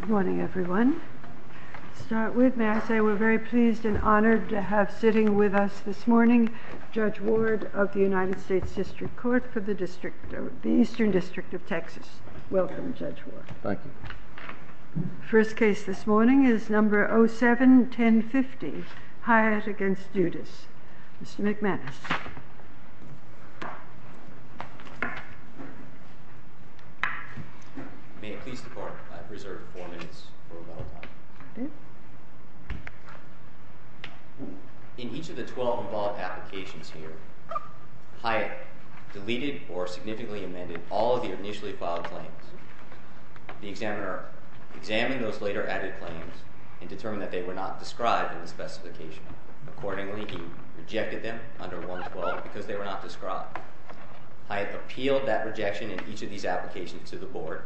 Good morning everyone. To start with, may I say we're very pleased and honored to have sitting with us this morning Judge Ward of the United States District Court for the Eastern District of Texas. Welcome Judge Ward. Thank you. First case this morning is number 07-1050 Hyatt v. Dudas. Mr. McManus. In each of the 12 involved applications here, Hyatt deleted or significantly amended all of the initially filed claims. The examiner examined those later added claims and determined that they were not described in the specification. Accordingly, he rejected them under 112 because they were not described. Hyatt appealed that rejection in each of these applications to the board,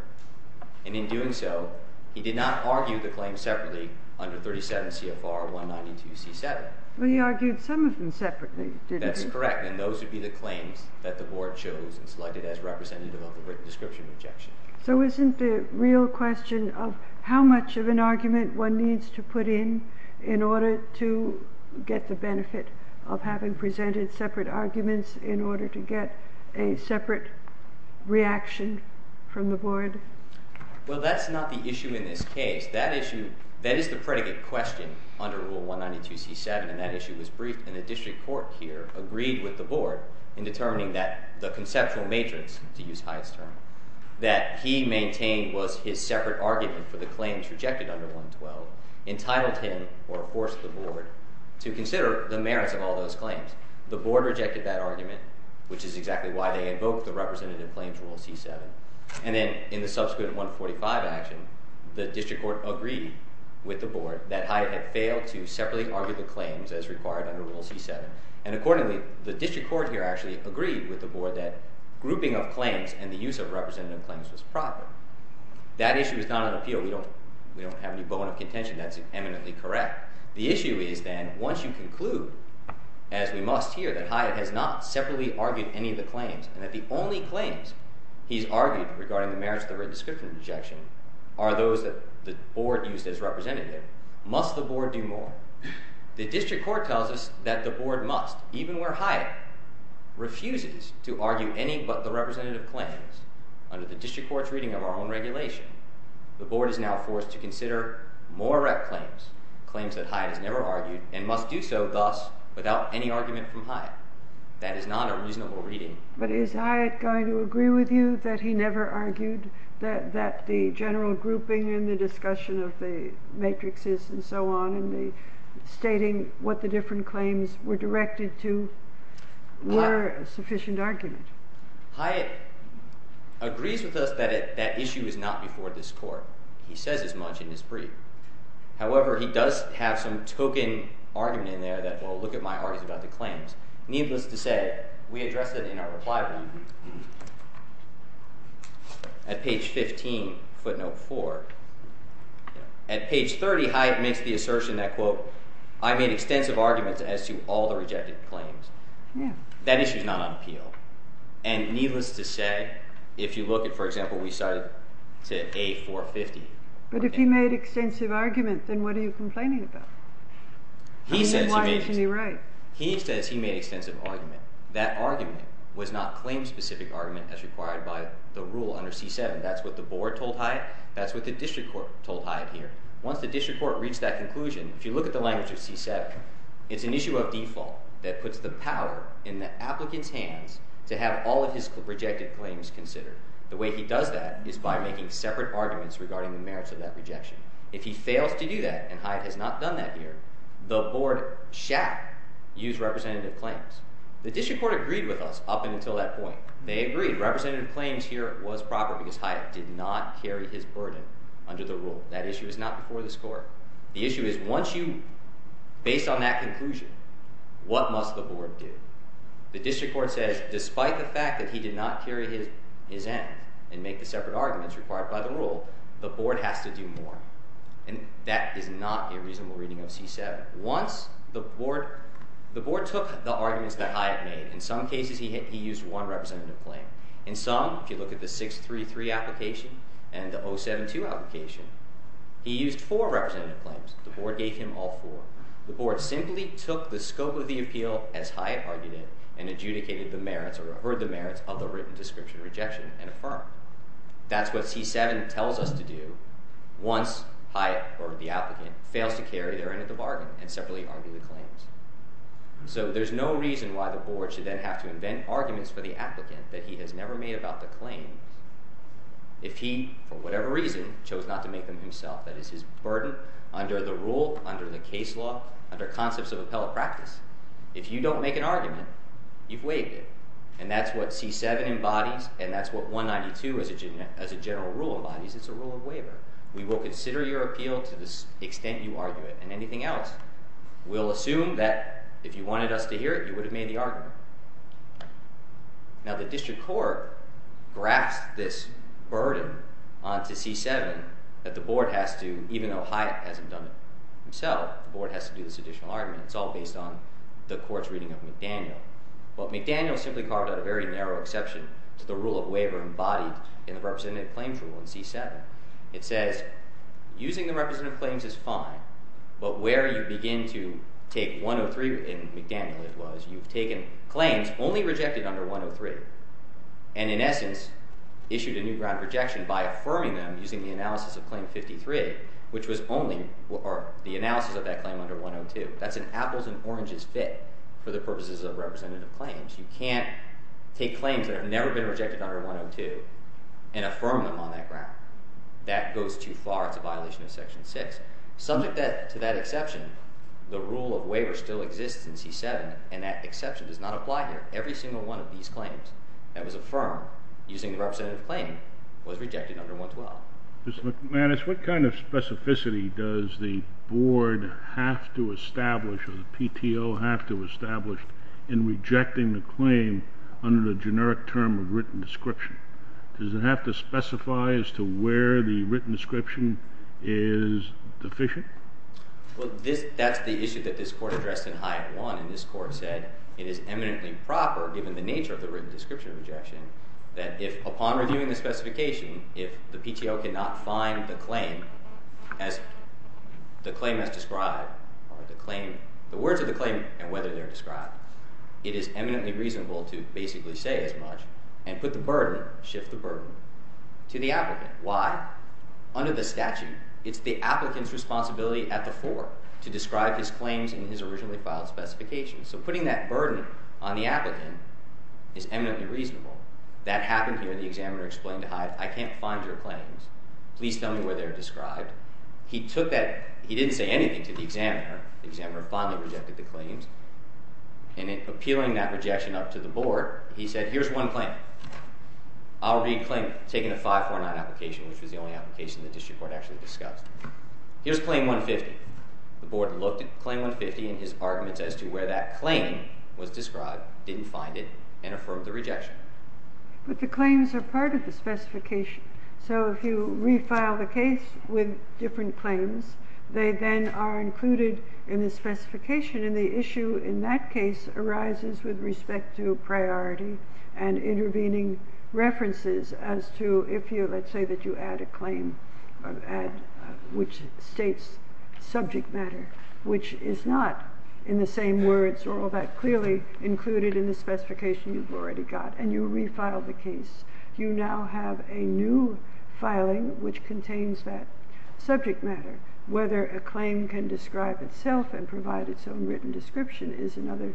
and in doing so, he did not argue the claim separately under 37 CFR 192 C7. He argued some of them separately, didn't he? That's correct, and those would be the claims that the board chose and selected as representative of the written description rejection. So isn't the real question of how much of an argument one needs to put in in order to get the benefit of having presented separate arguments in order to get a separate reaction from the board? Well, that's not the issue in this case. That issue, that is the predicate question under Rule 192 C7, and that issue was briefed, and the district court here agreed with the board in determining that the conceptual matrix, to use Hyatt's term, that he maintained was his separate argument for the claims rejected under 112 entitled him or forced the board to consider the merits of all those claims. The board rejected that argument, which is exactly why they invoked the representative claims Rule C7, and then in the subsequent 145 action, the district court agreed with the board that Hyatt had failed to separately argue the claims as required under Rule C7, and accordingly, the district court here actually agreed with the board that grouping of claims and the use of representative claims was proper. That issue is not on appeal. We don't have any bone of contention. That's eminently correct. The issue is then once you conclude, as we must here, that Hyatt has not separately argued any of the claims and that the only claims he's argued regarding the merits of the written description rejection are those that the board used as representative, must the board do more? The district court tells us that the board must, even where Hyatt refuses to argue any but the representative claims under the district court's reading of our own regulation, the board is now forced to consider more rec claims, claims that Hyatt has never argued, and must do so thus without any argument from Hyatt. That is not a reasonable reading. But is Hyatt going to agree with you that he never argued that the general grouping in the discussion of the matrixes and so on and the stating what the different claims were directed to were sufficient argument? Hyatt agrees with us that that issue is not before this court. He says as much in his brief. However, he does have some token argument in there that well, look at my argument about the claims. Needless to say, we address it in our reply at page 15, footnote 4. At page 30, Hyatt makes the assertion that quote, I made extensive arguments as to all the rejected claims. That issue is not on appeal. And needless to say, if you look at, for example, we started to A450. But if he made extensive argument, then what are you complaining about? He says he made extensive argument. That argument was not claim specific argument as required by the rule under C7. That's what the board told Hyatt. That's what the district court told Hyatt here. Once the district court reached that conclusion, if you look at the language of C7, it's an to have all of his rejected claims considered. The way he does that is by making separate arguments regarding the merits of that rejection. If he fails to do that, and Hyatt has not done that here, the board shall use representative claims. The district court agreed with us up and until that point. They agreed representative claims here was proper because Hyatt did not carry his burden under the rule. That issue is not before this court. The issue is once you based on that conclusion, what must the board do? The district court says, despite the fact that he did not carry his end and make the separate arguments required by the rule, the board has to do more. And that is not a reasonable reading of C7. Once the board took the arguments that Hyatt made, in some cases he used one representative claim. In some, if you look at the 633 application and the 072 application, he used four representative claims. The board gave him all four. The board simply took the scope of the appeal, as Hyatt argued it, and adjudicated the merits or heard the merits of the written description rejection and affirmed. That's what C7 tells us to do. Once Hyatt or the applicant fails to carry their end of the bargain and separately argue the claims. So there's no reason why the board should then have to invent arguments for the applicant that he has never made about the claim. If he, for whatever reason, chose not to make them himself, that is his burden under the rule, under the practice. If you don't make an argument, you've waived it. And that's what C7 embodies, and that's what 192 as a general rule embodies. It's a rule of waiver. We will consider your appeal to the extent you argue it and anything else. We'll assume that if you wanted us to hear it, you would have made the argument. Now, the district court grasped this burden onto C7 that the board has to, even though Hyatt hasn't done it himself, the board has to do this additional argument. It's all based on the court's reading of McDaniel. But McDaniel simply carved out a very narrow exception to the rule of waiver embodied in the representative claims rule in C7. It says, using the representative claims is fine, but where you begin to take 103 in McDaniel, it was, you've taken claims only rejected under 103 and, in essence, issued a new ground rejection by affirming them using the analysis of 102. That's an apples and oranges fit for the purposes of representative claims. You can't take claims that have never been rejected under 102 and affirm them on that ground. That goes too far, it's a violation of section six. Subject to that exception, the rule of waiver still exists in C7, and that exception does not apply here. Every single one of these claims that was affirmed using the representative claim was rejected under 112. Mr. McManus, what kind of specificity does the board have to establish or the PTO have to establish in rejecting the claim under the generic term of written description? Does it have to specify as to where the written description is deficient? Well, that's the issue that this court addressed in Hyatt One, and this court said it is eminently proper, given the nature of the written description rejection, that if upon reviewing the specification, if the PTO cannot find the claim as described, the words of the claim and whether they're described, it is eminently reasonable to basically say as much and put the burden, shift the burden to the applicant. Why? Under the statute, it's the applicant's responsibility at the fore to describe his claims in his originally filed specifications. So putting that burden on the applicant is eminently reasonable. That happened here. The examiner explained to Hyatt, I can't find your claims. Please tell me where they're described. He took that. He didn't say anything to the examiner. The examiner finally rejected the claims. And in appealing that rejection up to the board, he said, here's one claim. I'll read claim, taking the 549 application, which was the only application the district court actually discussed. Here's claim 150. The board looked at claim 150 and his arguments as to where that claim was described, didn't find it and affirmed the rejection. But the So if you refile the case with different claims, they then are included in the specification. And the issue in that case arises with respect to priority and intervening references as to if you, let's say that you add a claim, which states subject matter, which is not in the same words or all that clearly included in the specification you've already got. And you refile the case. You now have a new filing which contains that subject matter. Whether a claim can describe itself and provide its own written description is another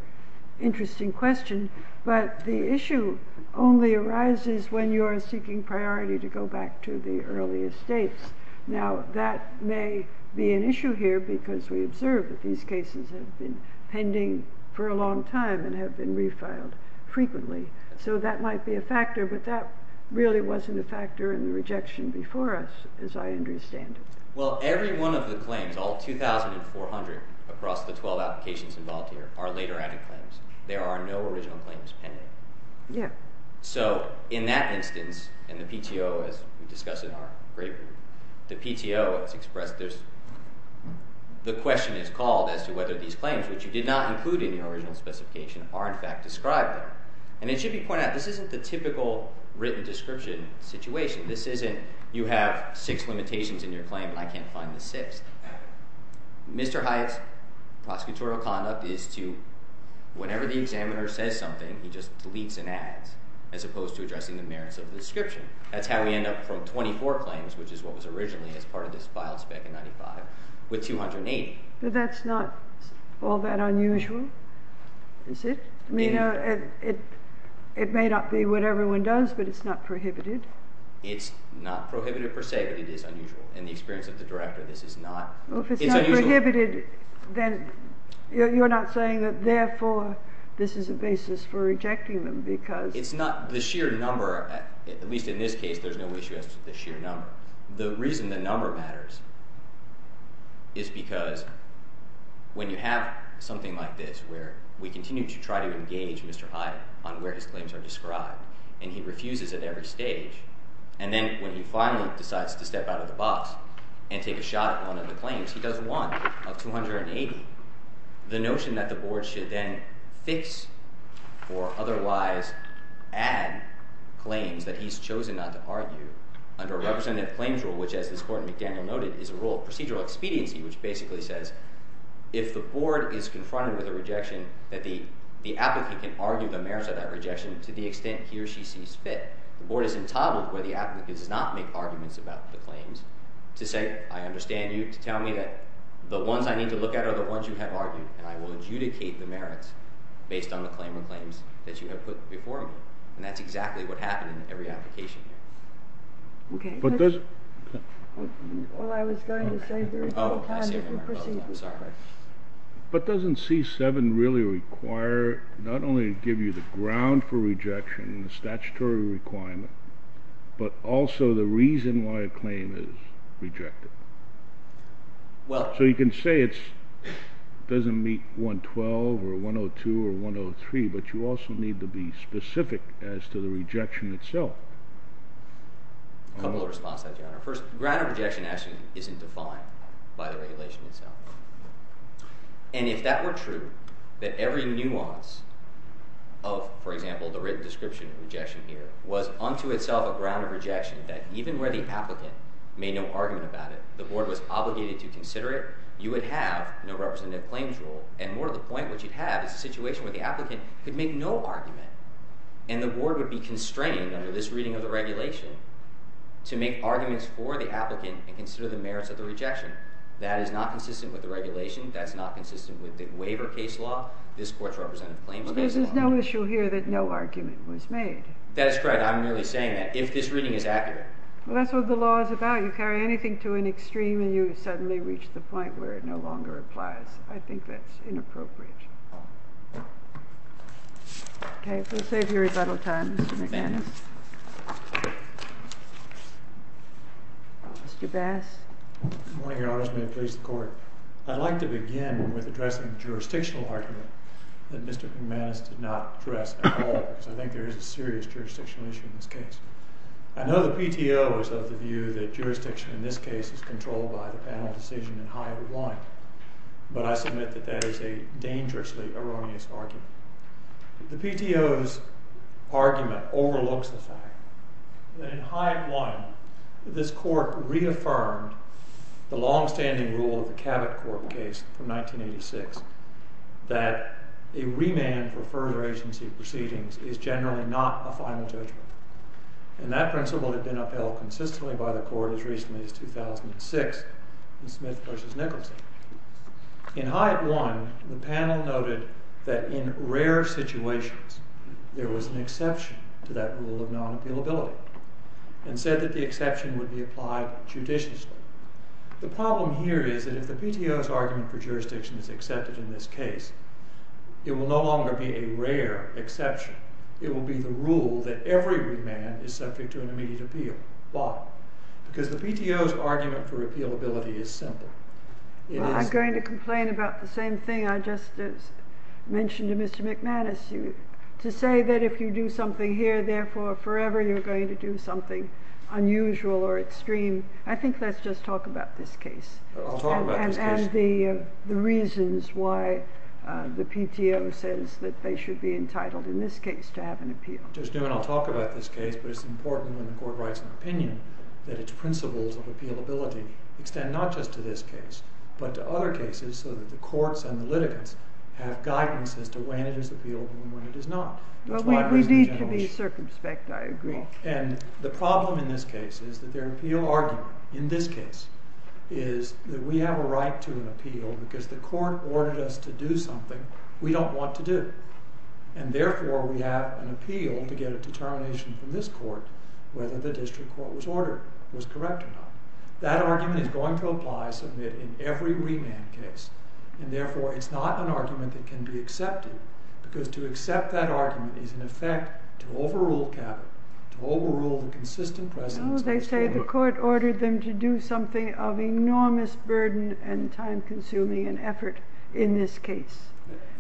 interesting question. But the issue only arises when you are seeking priority to go back to the earliest dates. Now, that may be an issue here because we observe that these cases have been pending for a might be a factor, but that really wasn't a factor in the rejection before us, as I understand it. Well, every one of the claims, all 2400 across the 12 applications involved here are later added claims. There are no original claims pending. Yeah. So in that instance, and the PTO, as we discussed in our great group, the PTO has expressed there's the question is called as to whether these claims which you did not include in the original specification are in fact described. And it should be pointed out, this isn't the typical written description situation. This isn't you have six limitations in your claim and I can't find the sixth. Mr. Hyatt's prosecutorial conduct is to, whenever the examiner says something, he just deletes and adds, as opposed to addressing the merits of the description. That's how we end up from 24 claims, which is what was originally as part of this file spec in 95, with 280. But that's not all that unusual, is it? It may not be what everyone does, but it's not prohibited. It's not prohibited per se, but it is unusual. In the experience of the director, this is not... If it's not prohibited, then you're not saying that therefore, this is a basis for rejecting them because... It's not the sheer number, at least in this case, there's no issue as to the sheer number. The reason the number matters is because when you have something like this, where we continue to try to engage Mr. Hyatt on where his claims are described, and he refuses at every stage, and then when he finally decides to step out of the box and take a shot at one of the claims, he does one of 280. The notion that the board should then fix or otherwise add claims that he's chosen not to argue under a representative claims rule, which as this court in McDaniel noted, is a rule of procedural expediency, which basically says, if the board is confronted with a rejection, that the applicant can argue the merits of that rejection to the extent he or she sees fit. The board is entitled, where the applicant does not make arguments about the claims, to say, I understand you to tell me that the ones I need to look at are the ones you have argued, and I will adjudicate the merits based on the claim or claims that you have put before me. And that's exactly what happened in every application here. Okay. But does... Well, I was going to say... Oh, I see. Oh, I'm sorry. But doesn't C7 really require, not only to give you the ground for rejection, the statutory requirement, but also the reason why a claim is rejected? Well... So you can say it doesn't meet 112 or 102 or 103, but you also need to be specific as to the rejection itself. A couple of responses, Your Honor. First, the ground of rejection actually isn't defined by the regulation itself. And if that were true, that every nuance of, for example, the written description of rejection here, was unto itself a ground of rejection, that even where the applicant made no argument about it, the board was obligated to consider it, you would have no representative claims rule. And more to the point, what you'd have is a situation where the applicant could make no argument and the board would be constrained under this reading of the regulation to make arguments for the applicant and consider the merits of the rejection. That is not consistent with the regulation, that's not consistent with the waiver case law, this court's representative claims... But there's no issue here that no argument was made. That is correct. I'm merely saying that if this reading is accurate... Well, that's what the law is about. You carry anything to an extreme and you suddenly reach the point where it no longer applies. I think that's inappropriate. Okay, we'll save your rebuttal time, Mr. McManus. Thank you. Mr. Bass. Good morning, Your Honor, may it please the court. I'd like to begin with addressing the jurisdictional argument that Mr. McManus did not address at all, because I think there is a serious jurisdictional issue in this case. I know the PTO is of the view that jurisdiction in this case is controlled by the panel decision in this case, but I submit that that is a dangerously erroneous argument. The PTO's argument overlooks the fact that in Hyatt One, this court reaffirmed the long standing rule of the Cabot Court case from 1986, that a remand for further agency proceedings is generally not a final judgment. And that principle had been upheld consistently by the court as recently as 2006 in Hyatt One, the panel noted that in rare situations, there was an exception to that rule of non-appealability, and said that the exception would be applied judiciously. The problem here is that if the PTO's argument for jurisdiction is accepted in this case, it will no longer be a rare exception. It will be the rule that every remand is subject to an immediate appeal. Why? Because the PTO's argument for appealability is simple. I'm going to complain about the same thing I just mentioned to Mr. McManus. To say that if you do something here, therefore forever you're going to do something unusual or extreme, I think let's just talk about this case. And the reasons why the PTO says that they should be entitled in this case to have an appeal. Just do it. I'll talk about this case, but it's important when the court writes an opinion that its principles of appealability extend not just to this case, but to other cases so that the courts and the litigants have guidance as to when it is appealable and when it is not. But we need to be circumspect, I agree. And the problem in this case is that their appeal argument, in this case, is that we have a right to an appeal because the court ordered us to do something we don't want to do. And therefore, we have an appeal to get a determination from this court whether the district court was ordered, was a free remand case. And therefore, it's not an argument that can be accepted because to accept that argument is in effect to overrule Cabot, to overrule the consistent precedence. No, they say the court ordered them to do something of enormous burden and time-consuming and effort in this case,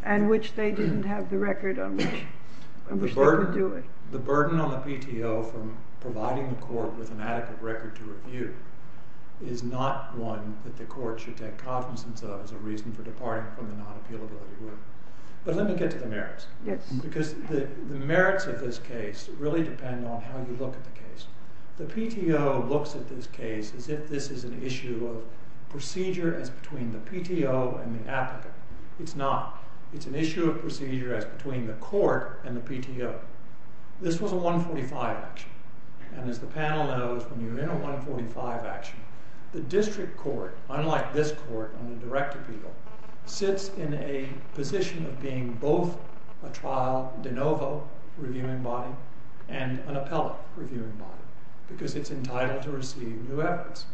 and which they didn't have the record on which they could do it. The burden on the PTO from providing the court with an adequate record to do so is a reason for departing from the non-appealability rule. But let me get to the merits. Because the merits of this case really depend on how you look at the case. The PTO looks at this case as if this is an issue of procedure as between the PTO and the applicant. It's not. It's an issue of procedure as between the court and the PTO. This was a 145 action. And as the panel knows, when you're in a 145 action, the district court, unlike this court on the direct appeal, sits in a position of being both a trial de novo reviewing body and an appellate reviewing body, because it's entitled to receive new evidence.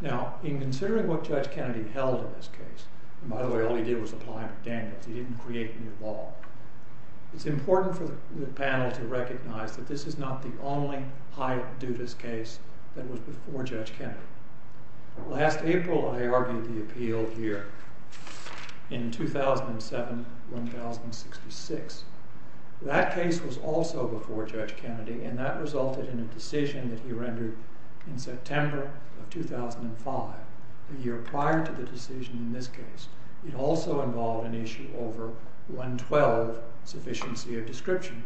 Now, in considering what Judge Kennedy held in this case, and by the way, all he did was apply for dangles. He didn't create new law. It's important for the panel to recognize that this is not the only Hyatt-Dudas case that was before Judge Kennedy. Last April, I argued the appeal here in 2007-1066. That case was also before Judge Kennedy. And that resulted in a decision that he rendered in September of 2005, a year prior to the decision in this case. It also involved an issue over 112, sufficiency of description.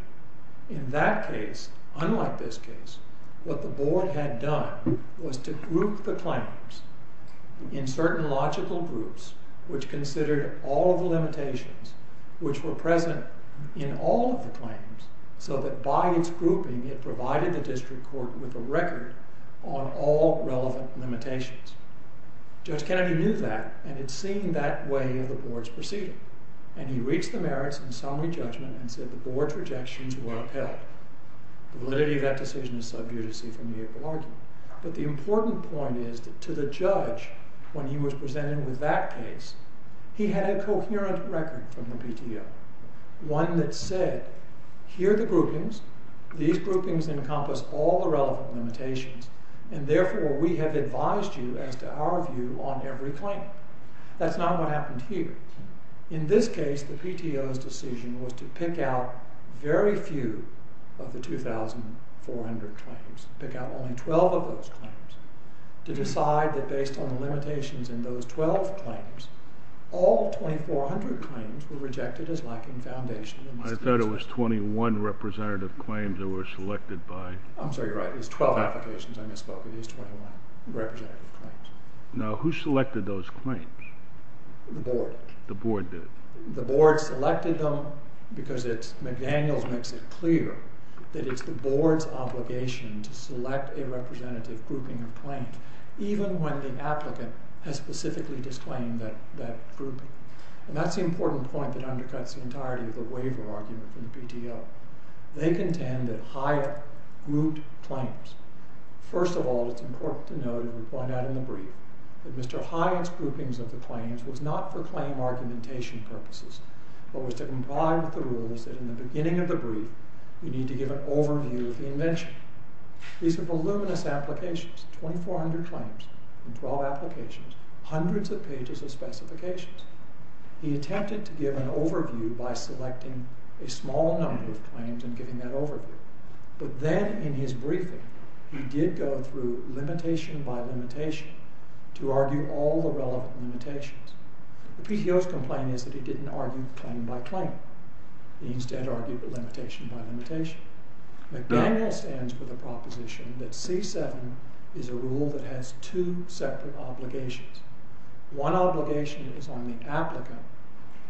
In that case, unlike this case, what the board had done was to group the claims in certain logical groups, which considered all of the limitations, which were present in all of the claims, so that by its grouping, it provided the district court with a record on all relevant limitations. Judge Kennedy knew that, and had seen that way of the board's proceeding. And he reached the merits in summary judgment and said the board's rejections were upheld. The validity of that decision is sub judice from the April argument. But the important point is that to the judge, when he was presented with that case, he had a coherent record from the PTO, one that said, here are the groupings. These groupings encompass all the relevant limitations. And therefore, we have advised you, as to our view, on every claim. That's not what happened here. In this case, the PTO's decision was to pick out very few of the 2,400 claims, pick out only 12 of those claims, to decide that, based on the limitations in those 12 claims, all 2,400 claims were rejected as lacking foundation in the statute. I thought it was 21 representative claims that were selected by. I'm sorry, you're right. It was 12 applications. I misspoke. It was 21 representative claims. Now, who selected those claims? The board. The board did. The board selected them because McDaniels makes it clear that it's the board's obligation to select a representative grouping of claims, even when the applicant has specifically disclaimed that grouping. And that's the important point that undercuts the entirety of the waiver argument from the PTO. They contend that higher grouped claims. First of all, it's important to note, and we point out in the brief, that Mr. Hyatt's groupings of the claims was not for claim argumentation purposes, but was to comply with the rules that, in the beginning of the brief, you need to give an overview of the invention. These are voluminous applications, 2,400 claims and 12 applications, hundreds of pages of specifications. He attempted to give an overview by selecting a small number of claims and giving that overview. But then, in his briefing, he did go through limitation by limitation to argue all the relevant limitations. The PTO's complaint is that he didn't argue claim by claim. He instead argued limitation by limitation. McDaniels ends with a proposition that C7 is a rule that has two separate obligations. One obligation is on the applicant.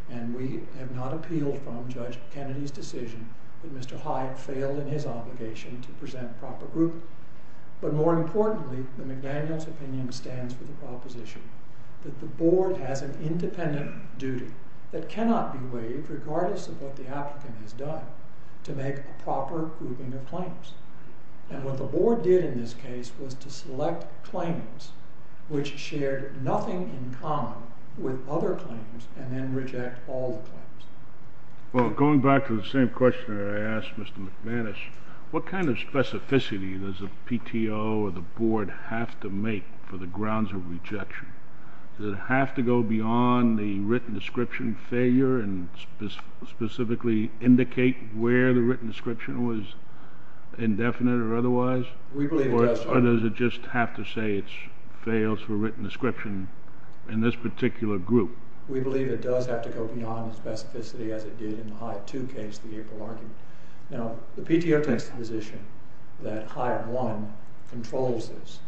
And we have not appealed from Judge Kennedy's decision that Mr. Hyatt failed in his obligation to present a proper grouping. But more importantly, the McDaniels opinion stands for the proposition that the board has an independent duty that cannot be waived, regardless of what the applicant has done, to make a proper grouping of claims. And what the board did in this case was to select claims which were not subject to the application. subject to the obligation to present a proper grouping of claims. Well, going back to the same question I asked Mr. McManus, what kind of specificity does a PTO or the board have to make for the grounds of rejection? Does it have to go beyond the written description failure and specifically indicate where the written description was indefinite or otherwise? We believe it does. Or does it just have to say it fails for written description in this particular group? We believe it does have to go beyond the specificity as it did in the Hyatt 2 case, the April argument. Now, the PTO takes the position that Hyatt 1 controls this.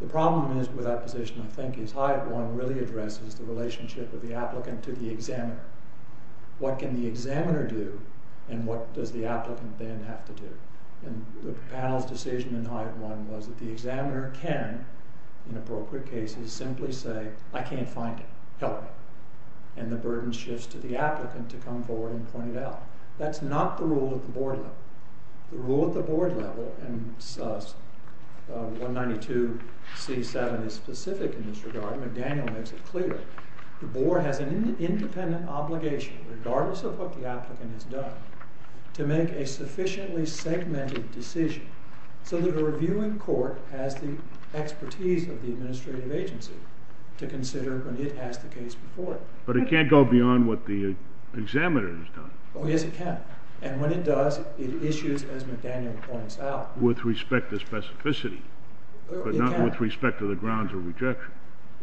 The problem is with that position, I think, is Hyatt 1 really addresses the relationship of the applicant to the examiner. What can the examiner do? And what does the applicant then have to do? And the panel's decision in Hyatt 1 was that the examiner can, in appropriate cases, simply say, I can't find it. Help me. And the burden shifts to the applicant to come forward and point it out. That's not the rule at the board level. The rule at the board level, and 192C7 is specific in this regard. McDaniel makes it clear. The board has an independent obligation, regardless of what the applicant has done, to make a sufficiently segmented decision so that a reviewing court has the expertise of the administrative agency to consider when it has the case before it. But it can't go beyond what the examiner has done. Oh, yes, it can. And when it does, it issues, as McDaniel points out. With respect to specificity, but not with respect to the grounds of rejection.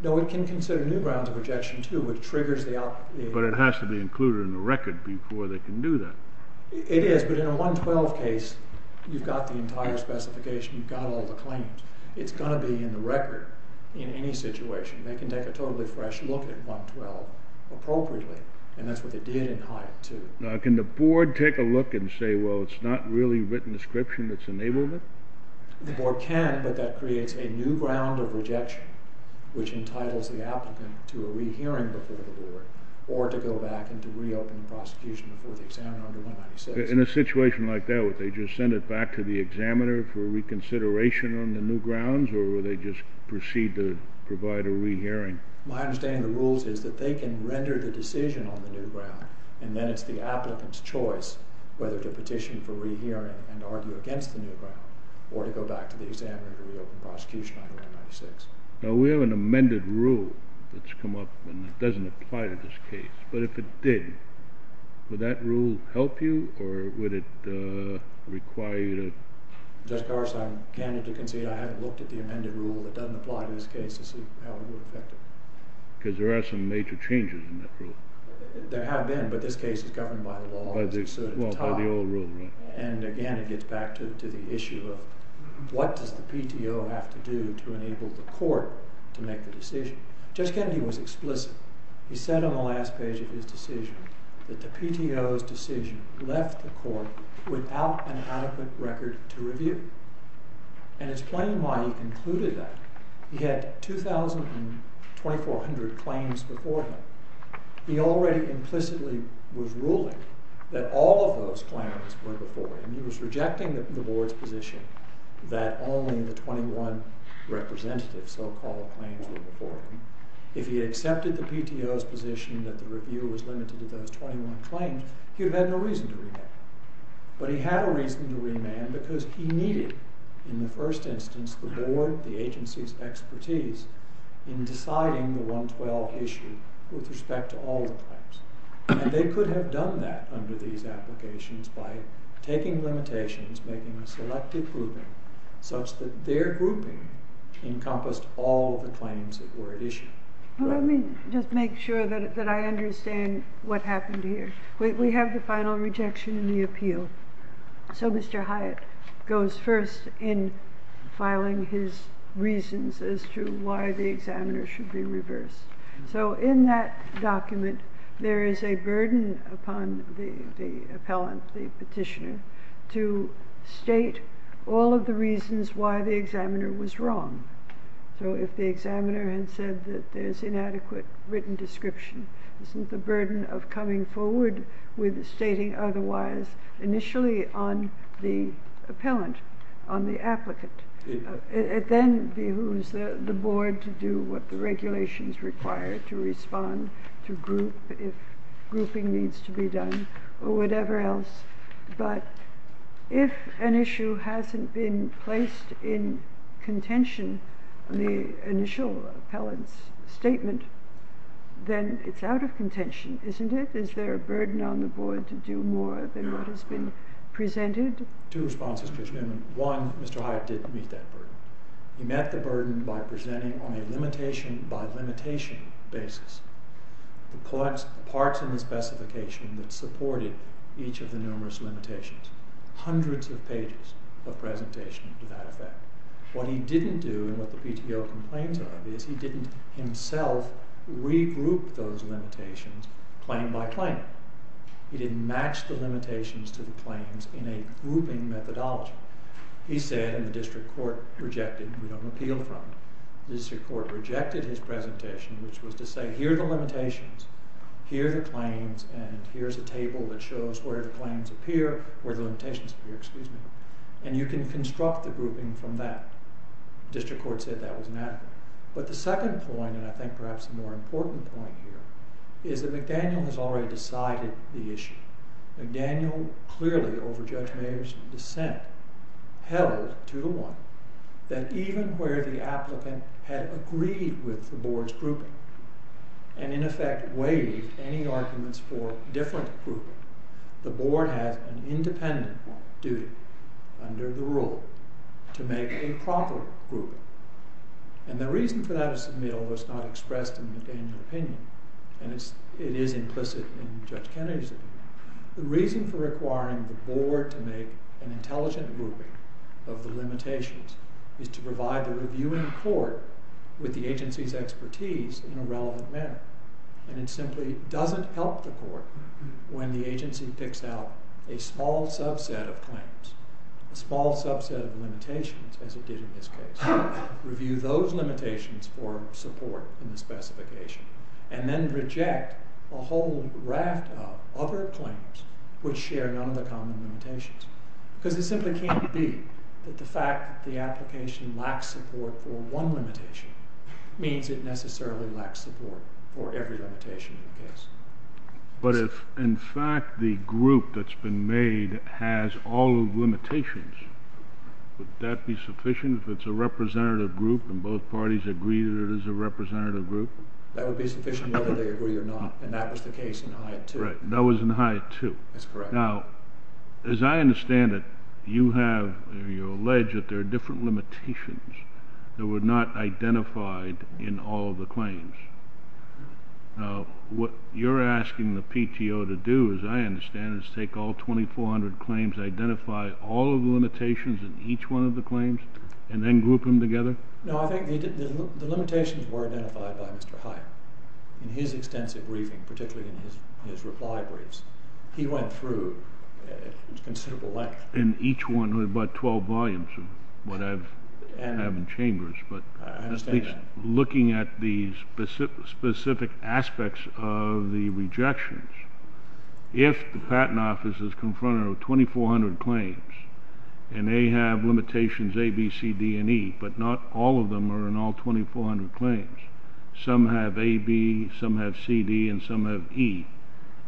No, it can consider new grounds of rejection, too, which triggers the output. But it has to be included in the record before they can do that. It is. But in a 112 case, you've got the entire specification. You've got all the claims. It's going to be in the record in any situation. They can take a totally fresh look at 112 appropriately. And that's what they did in Hyatt 2. Now, can the board take a look and say, well, it's not really written description that's enabled it? The board can. But that creates a new ground of rejection, which entitles the applicant to a rehearing before the board, or to go back and to reopen the prosecution before the examiner under 196. In a situation like that, would they just send it back to the examiner for reconsideration on the new grounds? Or would they just proceed to provide a rehearing? My understanding of the rules is that they can render the decision on the new ground. And then it's the applicant's choice whether to petition for rehearing and argue against the new ground, or to go back to the examiner to reopen prosecution under 196. Now, we have an amended rule that's come up. And it doesn't apply to this case. But if it did, would that rule help you? Or would it require you to? Judge Carson, I'm candid to concede I haven't looked at the amended rule that doesn't apply to this case to see how it would affect it. Because there are some major changes in that rule. There have been. But this case is governed by the law. Well, by the old rule, right. And again, it gets back to the issue of what does the PTO have to do to enable the court to make the decision. Judge Kennedy was explicit. He said on the last page of his decision that the PTO's decision left the court without an adequate record to review. And it's plain why he concluded that. He had 2,000 and 2,400 claims before him. He already implicitly was ruling that all of those claims were before him. He was rejecting the board's position that only the 21 representative so-called claims were before him. If he had accepted the PTO's position that the review was limited to those 21 claims, he would have had no reason to remand. But he had a reason to remand because he needed, in the first instance, the board, the agency's expertise in deciding the 112 issue with respect to all the claims. And they could have done that under these applications by taking limitations, making a selective grouping, such that their grouping encompassed all the claims that were issued. Let me just make sure that I understand what happened here. We have the final rejection in the appeal. So Mr. Hyatt goes first in filing his reasons as to why the examiner should be reversed. So in that document, there is a burden upon the appellant, the petitioner, to state all of the reasons why the examiner was wrong. So if the examiner had said that there's inadequate written description, isn't the burden of coming forward with stating otherwise initially on the appellant, on the applicant? It then behooves the board to do what the regulations to respond to group, if grouping needs to be done, or whatever else. But if an issue hasn't been placed in contention on the initial appellant's statement, then it's out of contention, isn't it? Is there a burden on the board to do more than what has been presented? Two responses, Judge Newman. One, Mr. Hyatt didn't meet that burden. He met the burden by presenting on a limitation by limitation basis the parts in the specification that supported each of the numerous limitations, hundreds of pages of presentation to that effect. What he didn't do, and what the PTO complains of, is he didn't himself regroup those limitations claim by claim. He didn't match the limitations to the claims in a grouping methodology. He said, and the district court rejected, we don't appeal from it. The district court rejected his presentation, which was to say, here are the limitations, here are the claims, and here's a table that shows where the claims appear, where the limitations appear. And you can construct the grouping from that. District court said that was inadequate. But the second point, and I think perhaps a more important point here, is that McDaniel has already decided the issue. McDaniel clearly, over Judge Mayer's dissent, held, 2 to 1, that even where the applicant had agreed with the board's grouping, and in effect waived any arguments for different grouping, the board has an independent duty, under the rule, to make a proper grouping. And the reason for that is, to me, although it's not expressed in McDaniel's opinion, and it is implicit in Judge Kennedy's opinion, the reason for requiring the board to make an intelligent grouping of the limitations is to provide the reviewing court with the agency's expertise in a relevant manner. And it simply doesn't help the court when the agency picks out a small subset of claims, a small subset of limitations, as it did in this case, review those limitations for support in the specification, and then reject a whole raft of other claims which share none of the common limitations. Because it simply can't be that the fact that the application lacks support for one limitation means it necessarily lacks support for every limitation in the case. But if, in fact, the group that's been made has all of the limitations, would that be sufficient if it's a representative group, and both parties agree that it is a representative group? That would be sufficient whether they agree or not, and that was the case in Hyatt 2. Right, that was in Hyatt 2. That's correct. Now, as I understand it, you have, you allege that there are different limitations that were not identified in all of the claims. What you're asking the PTO to do, as I understand it, is take all 2,400 claims, identify all of the limitations in each one of the claims, and then group them together? No, I think the limitations were identified by Mr. Hyatt in his extensive briefing, particularly in his reply briefs. He went through a considerable length. In each one, there were about 12 volumes of what I have in chambers, but at least looking at the specific aspects of the rejections, if the Patent Office is confronted with 2,400 claims, and they have limitations A, B, C, D, and E, but not all of them are in all 2,400 claims, some have A, B, some have C, D, and some have E,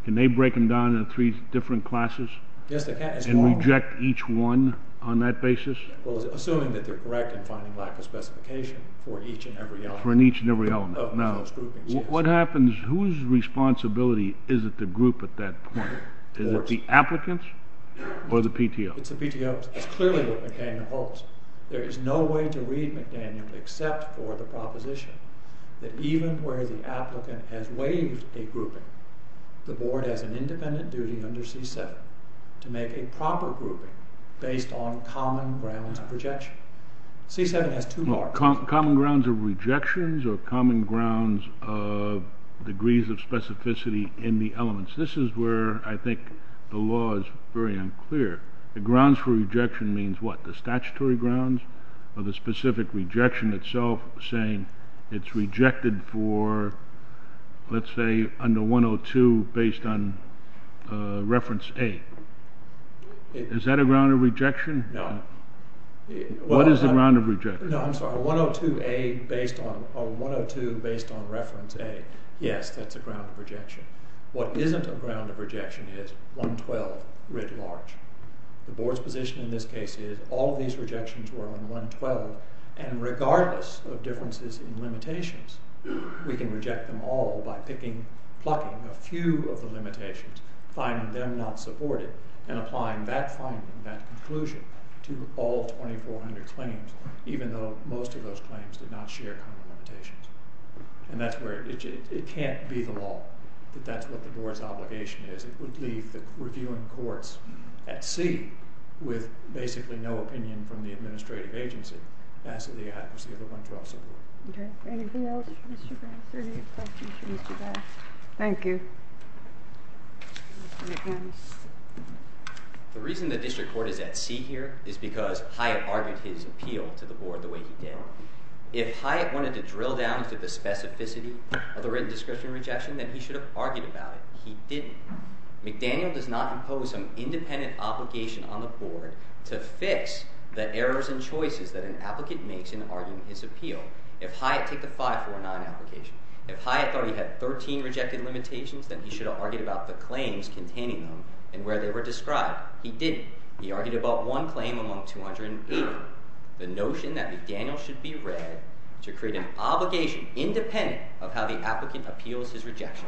can they break them down into three different classes? Yes, they can. And reject each one on that basis? Well, assuming that they're correct in finding lack of specification for each and every element. For each and every element. Of those groupings. Now, what happens, whose responsibility is it to group at that point? Is it the applicant's or the PTO's? It's the PTO's. It's clearly what McDaniel holds. There is no way to read McDaniel except for the proposition that even where the applicant has waived a grouping, the board has an independent duty under C-7 to make a proper grouping based on common grounds of rejection. C-7 has two more. Common grounds of rejections or common grounds of degrees of specificity in the elements. This is where I think the law is very unclear. The grounds for rejection means what? The statutory grounds or the specific rejection itself saying it's rejected for, let's say, under 102 based on reference A. Is that a ground of rejection? No. What is a ground of rejection? No, I'm sorry. 102A based on reference A. Yes, that's a ground of rejection. What isn't a ground of rejection is 112 writ large. The board's position in this case is all of these rejections were on 112. And regardless of differences in limitations, we can reject them all by picking, plucking a few of the limitations, finding them not supported, and applying that finding, that conclusion, to all 2,400 claims, even though most of those claims did not share common limitations. And it can't be the law that that's what the board's obligation is. It would leave the reviewing courts at sea with basically no opinion from the administrative agency as to the adequacy of the 112 support. Anything else for Mr. Brass or any questions for Mr. Brass? Thank you. The reason the district court is at sea here is because Hyatt argued his appeal to the board the way he did. If Hyatt wanted to drill down to the specificity of the written discretionary rejection, then he should have argued about it. He didn't. McDaniel does not impose an independent obligation on the board to fix the errors and choices that an applicant makes in arguing his appeal. If Hyatt took the 549 application, if Hyatt thought he had 13 rejected limitations, then he should have argued about the claims containing them and where they were described. He didn't. He argued about one claim among 280, the notion that McDaniel should be read to create an obligation independent of how the applicant appeals his rejection.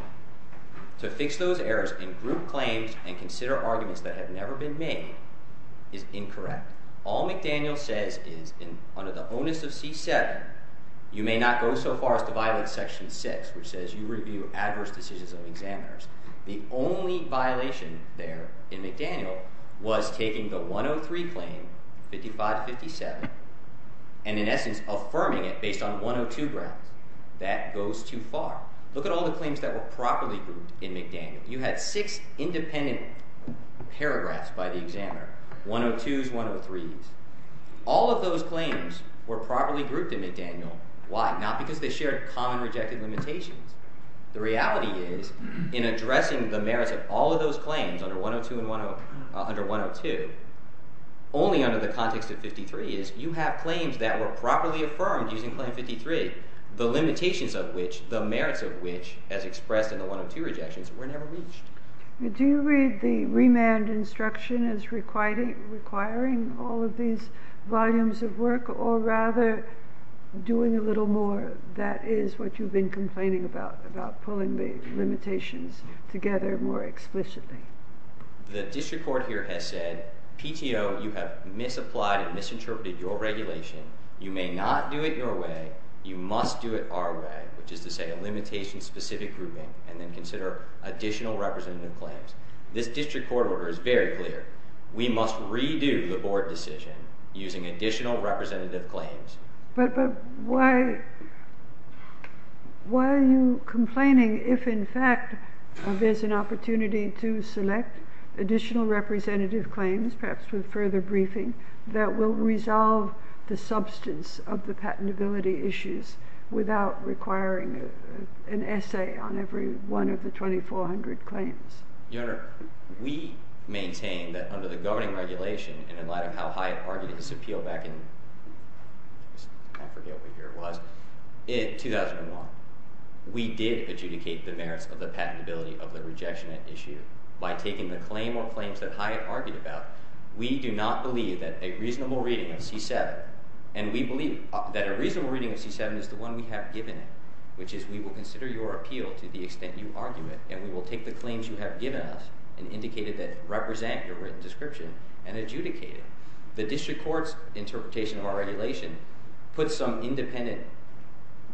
To fix those errors in group claims and consider arguments that have never been made is incorrect. All McDaniel says is under the onus of C7, you may not go so far as to violate section 6, which says you review adverse decisions of examiners. The only violation there in McDaniel was taking the 103 claim, 55 to 57, and in essence affirming it based on 102 grounds. That goes too far. Look at all the claims that were properly grouped in McDaniel. You had six independent paragraphs by the examiner, 102s, 103s. All of those claims were properly grouped in McDaniel. Why? Not because they shared common rejected limitations. The reality is, in addressing the merits of all of those claims under 102, only under the context of 53 is you have claims that were properly affirmed using the merits of which, as expressed in the 102 rejections, were never reached. Do you read the remand instruction as requiring all of these volumes of work or rather doing a little more? That is what you've been complaining about, about pulling the limitations together more explicitly. The district court here has said, PTO, you have misapplied and misinterpreted your regulation. You may not do it your way. You must do it our way, which is to say a limitation-specific grouping and then consider additional representative claims. This district court order is very clear. We must redo the board decision using additional representative claims. But why are you complaining if, in fact, there's an opportunity to select additional representative claims, perhaps with further briefing, that will resolve the substance of the patentability issues without requiring an essay on every one of the 2,400 claims? Your Honor, we maintain that under the governing regulation and in light of how Hyatt argued his appeal back in 2001, we did adjudicate the merits of the patentability of the rejection issue. By taking the claim or claims that Hyatt argued about, we do not believe that a reasonable reading of C7 and we believe that a reasonable reading of C7 is the one we have given it, which is we will consider your appeal to the extent you argue it. And we will take the claims you have given us and indicate it that represent your written description and adjudicate it. The district court's interpretation of our regulation puts some independent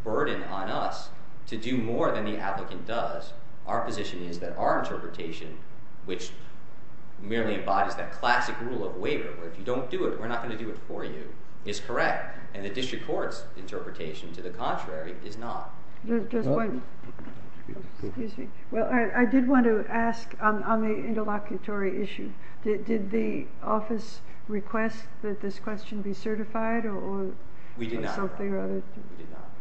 burden on us to do more than the applicant does. Our position is that our interpretation, which merely embodies that classic rule of waiver, where if you don't do it, we're not going to do it for you, is correct. And the district court's interpretation to the contrary is not. Well, I did want to ask on the interlocutory issue. Did the office request that this question be certified? We did not.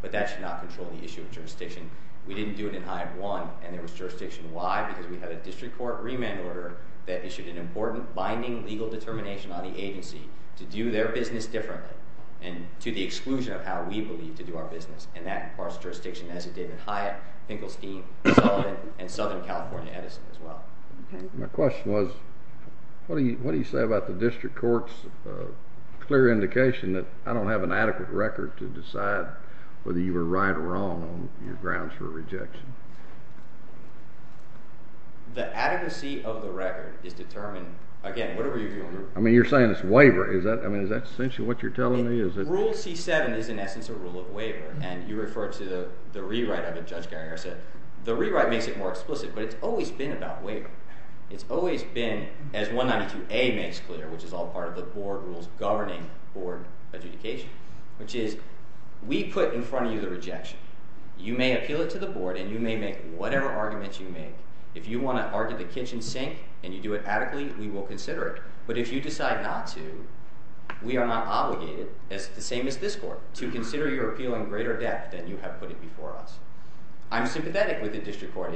But that should not control the issue of jurisdiction. We didn't do it in Hyatt 1, and there was jurisdiction. Why? Because we had a district court remand order that issued an important binding legal determination on the agency to do their business differently and to the exclusion of how we believe to do our business. And that imparts jurisdiction, as did David Hyatt, Finkelstein, Sullivan, and Southern California Edison, as well. My question was, what do you say about the district court's clear indication that I don't have an adequate record to decide whether you were right or wrong on your grounds for rejection? The adequacy of the record is determined. I mean, you're saying it's waiver. I mean, is that essentially what you're telling me? Is it? Rule C-7 is, in essence, a rule of waiver. And you referred to the rewrite of it, Judge Geringer said. The rewrite makes it more explicit. But it's always been about waiver. It's always been, as 192A makes clear, which is all part of the board rules governing board adjudication, which is we put in front of you the rejection. You may appeal it to the board, and you may make whatever arguments you make. If you want to argue the kitchen sink and you do it adequately, we will consider it. But if you decide not to, we are not obligated, the same as this court, to consider your appeal in greater depth than you have put it before us. I'm sympathetic with the district court.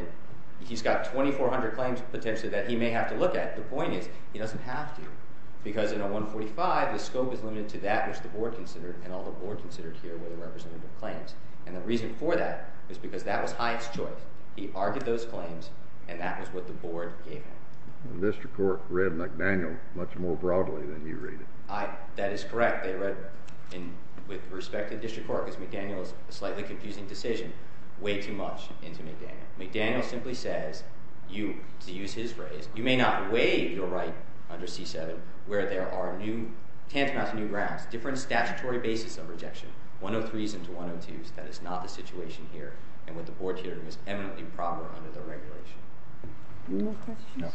He's got 2,400 claims, potentially, that he may have to look at. The point is, he doesn't have to. Because in a 145, the scope is limited to that which the board considered, and all the board considered here were the representative claims. And the reason for that is because that was Hyatt's choice. He argued those claims, and that was what the board gave him. The district court read McDaniel much more broadly than you read it. That is correct. They read, with respect to the district court, because McDaniel is a slightly confusing decision, way too much into McDaniel. McDaniel simply says, to use his phrase, you may not waive your right under C-7, where there are new tantamount to new grounds, different statutory basis of rejection, 103s into 102s. That is not the situation here, and what the board here is eminently proper under the regulation. Any more questions? No.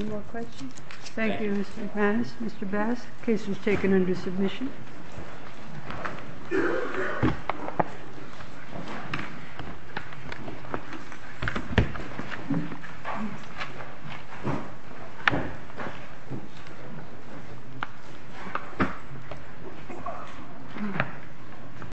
Any more questions? Thank you, Mr. McManus. Mr. Bass, the case was taken under submission.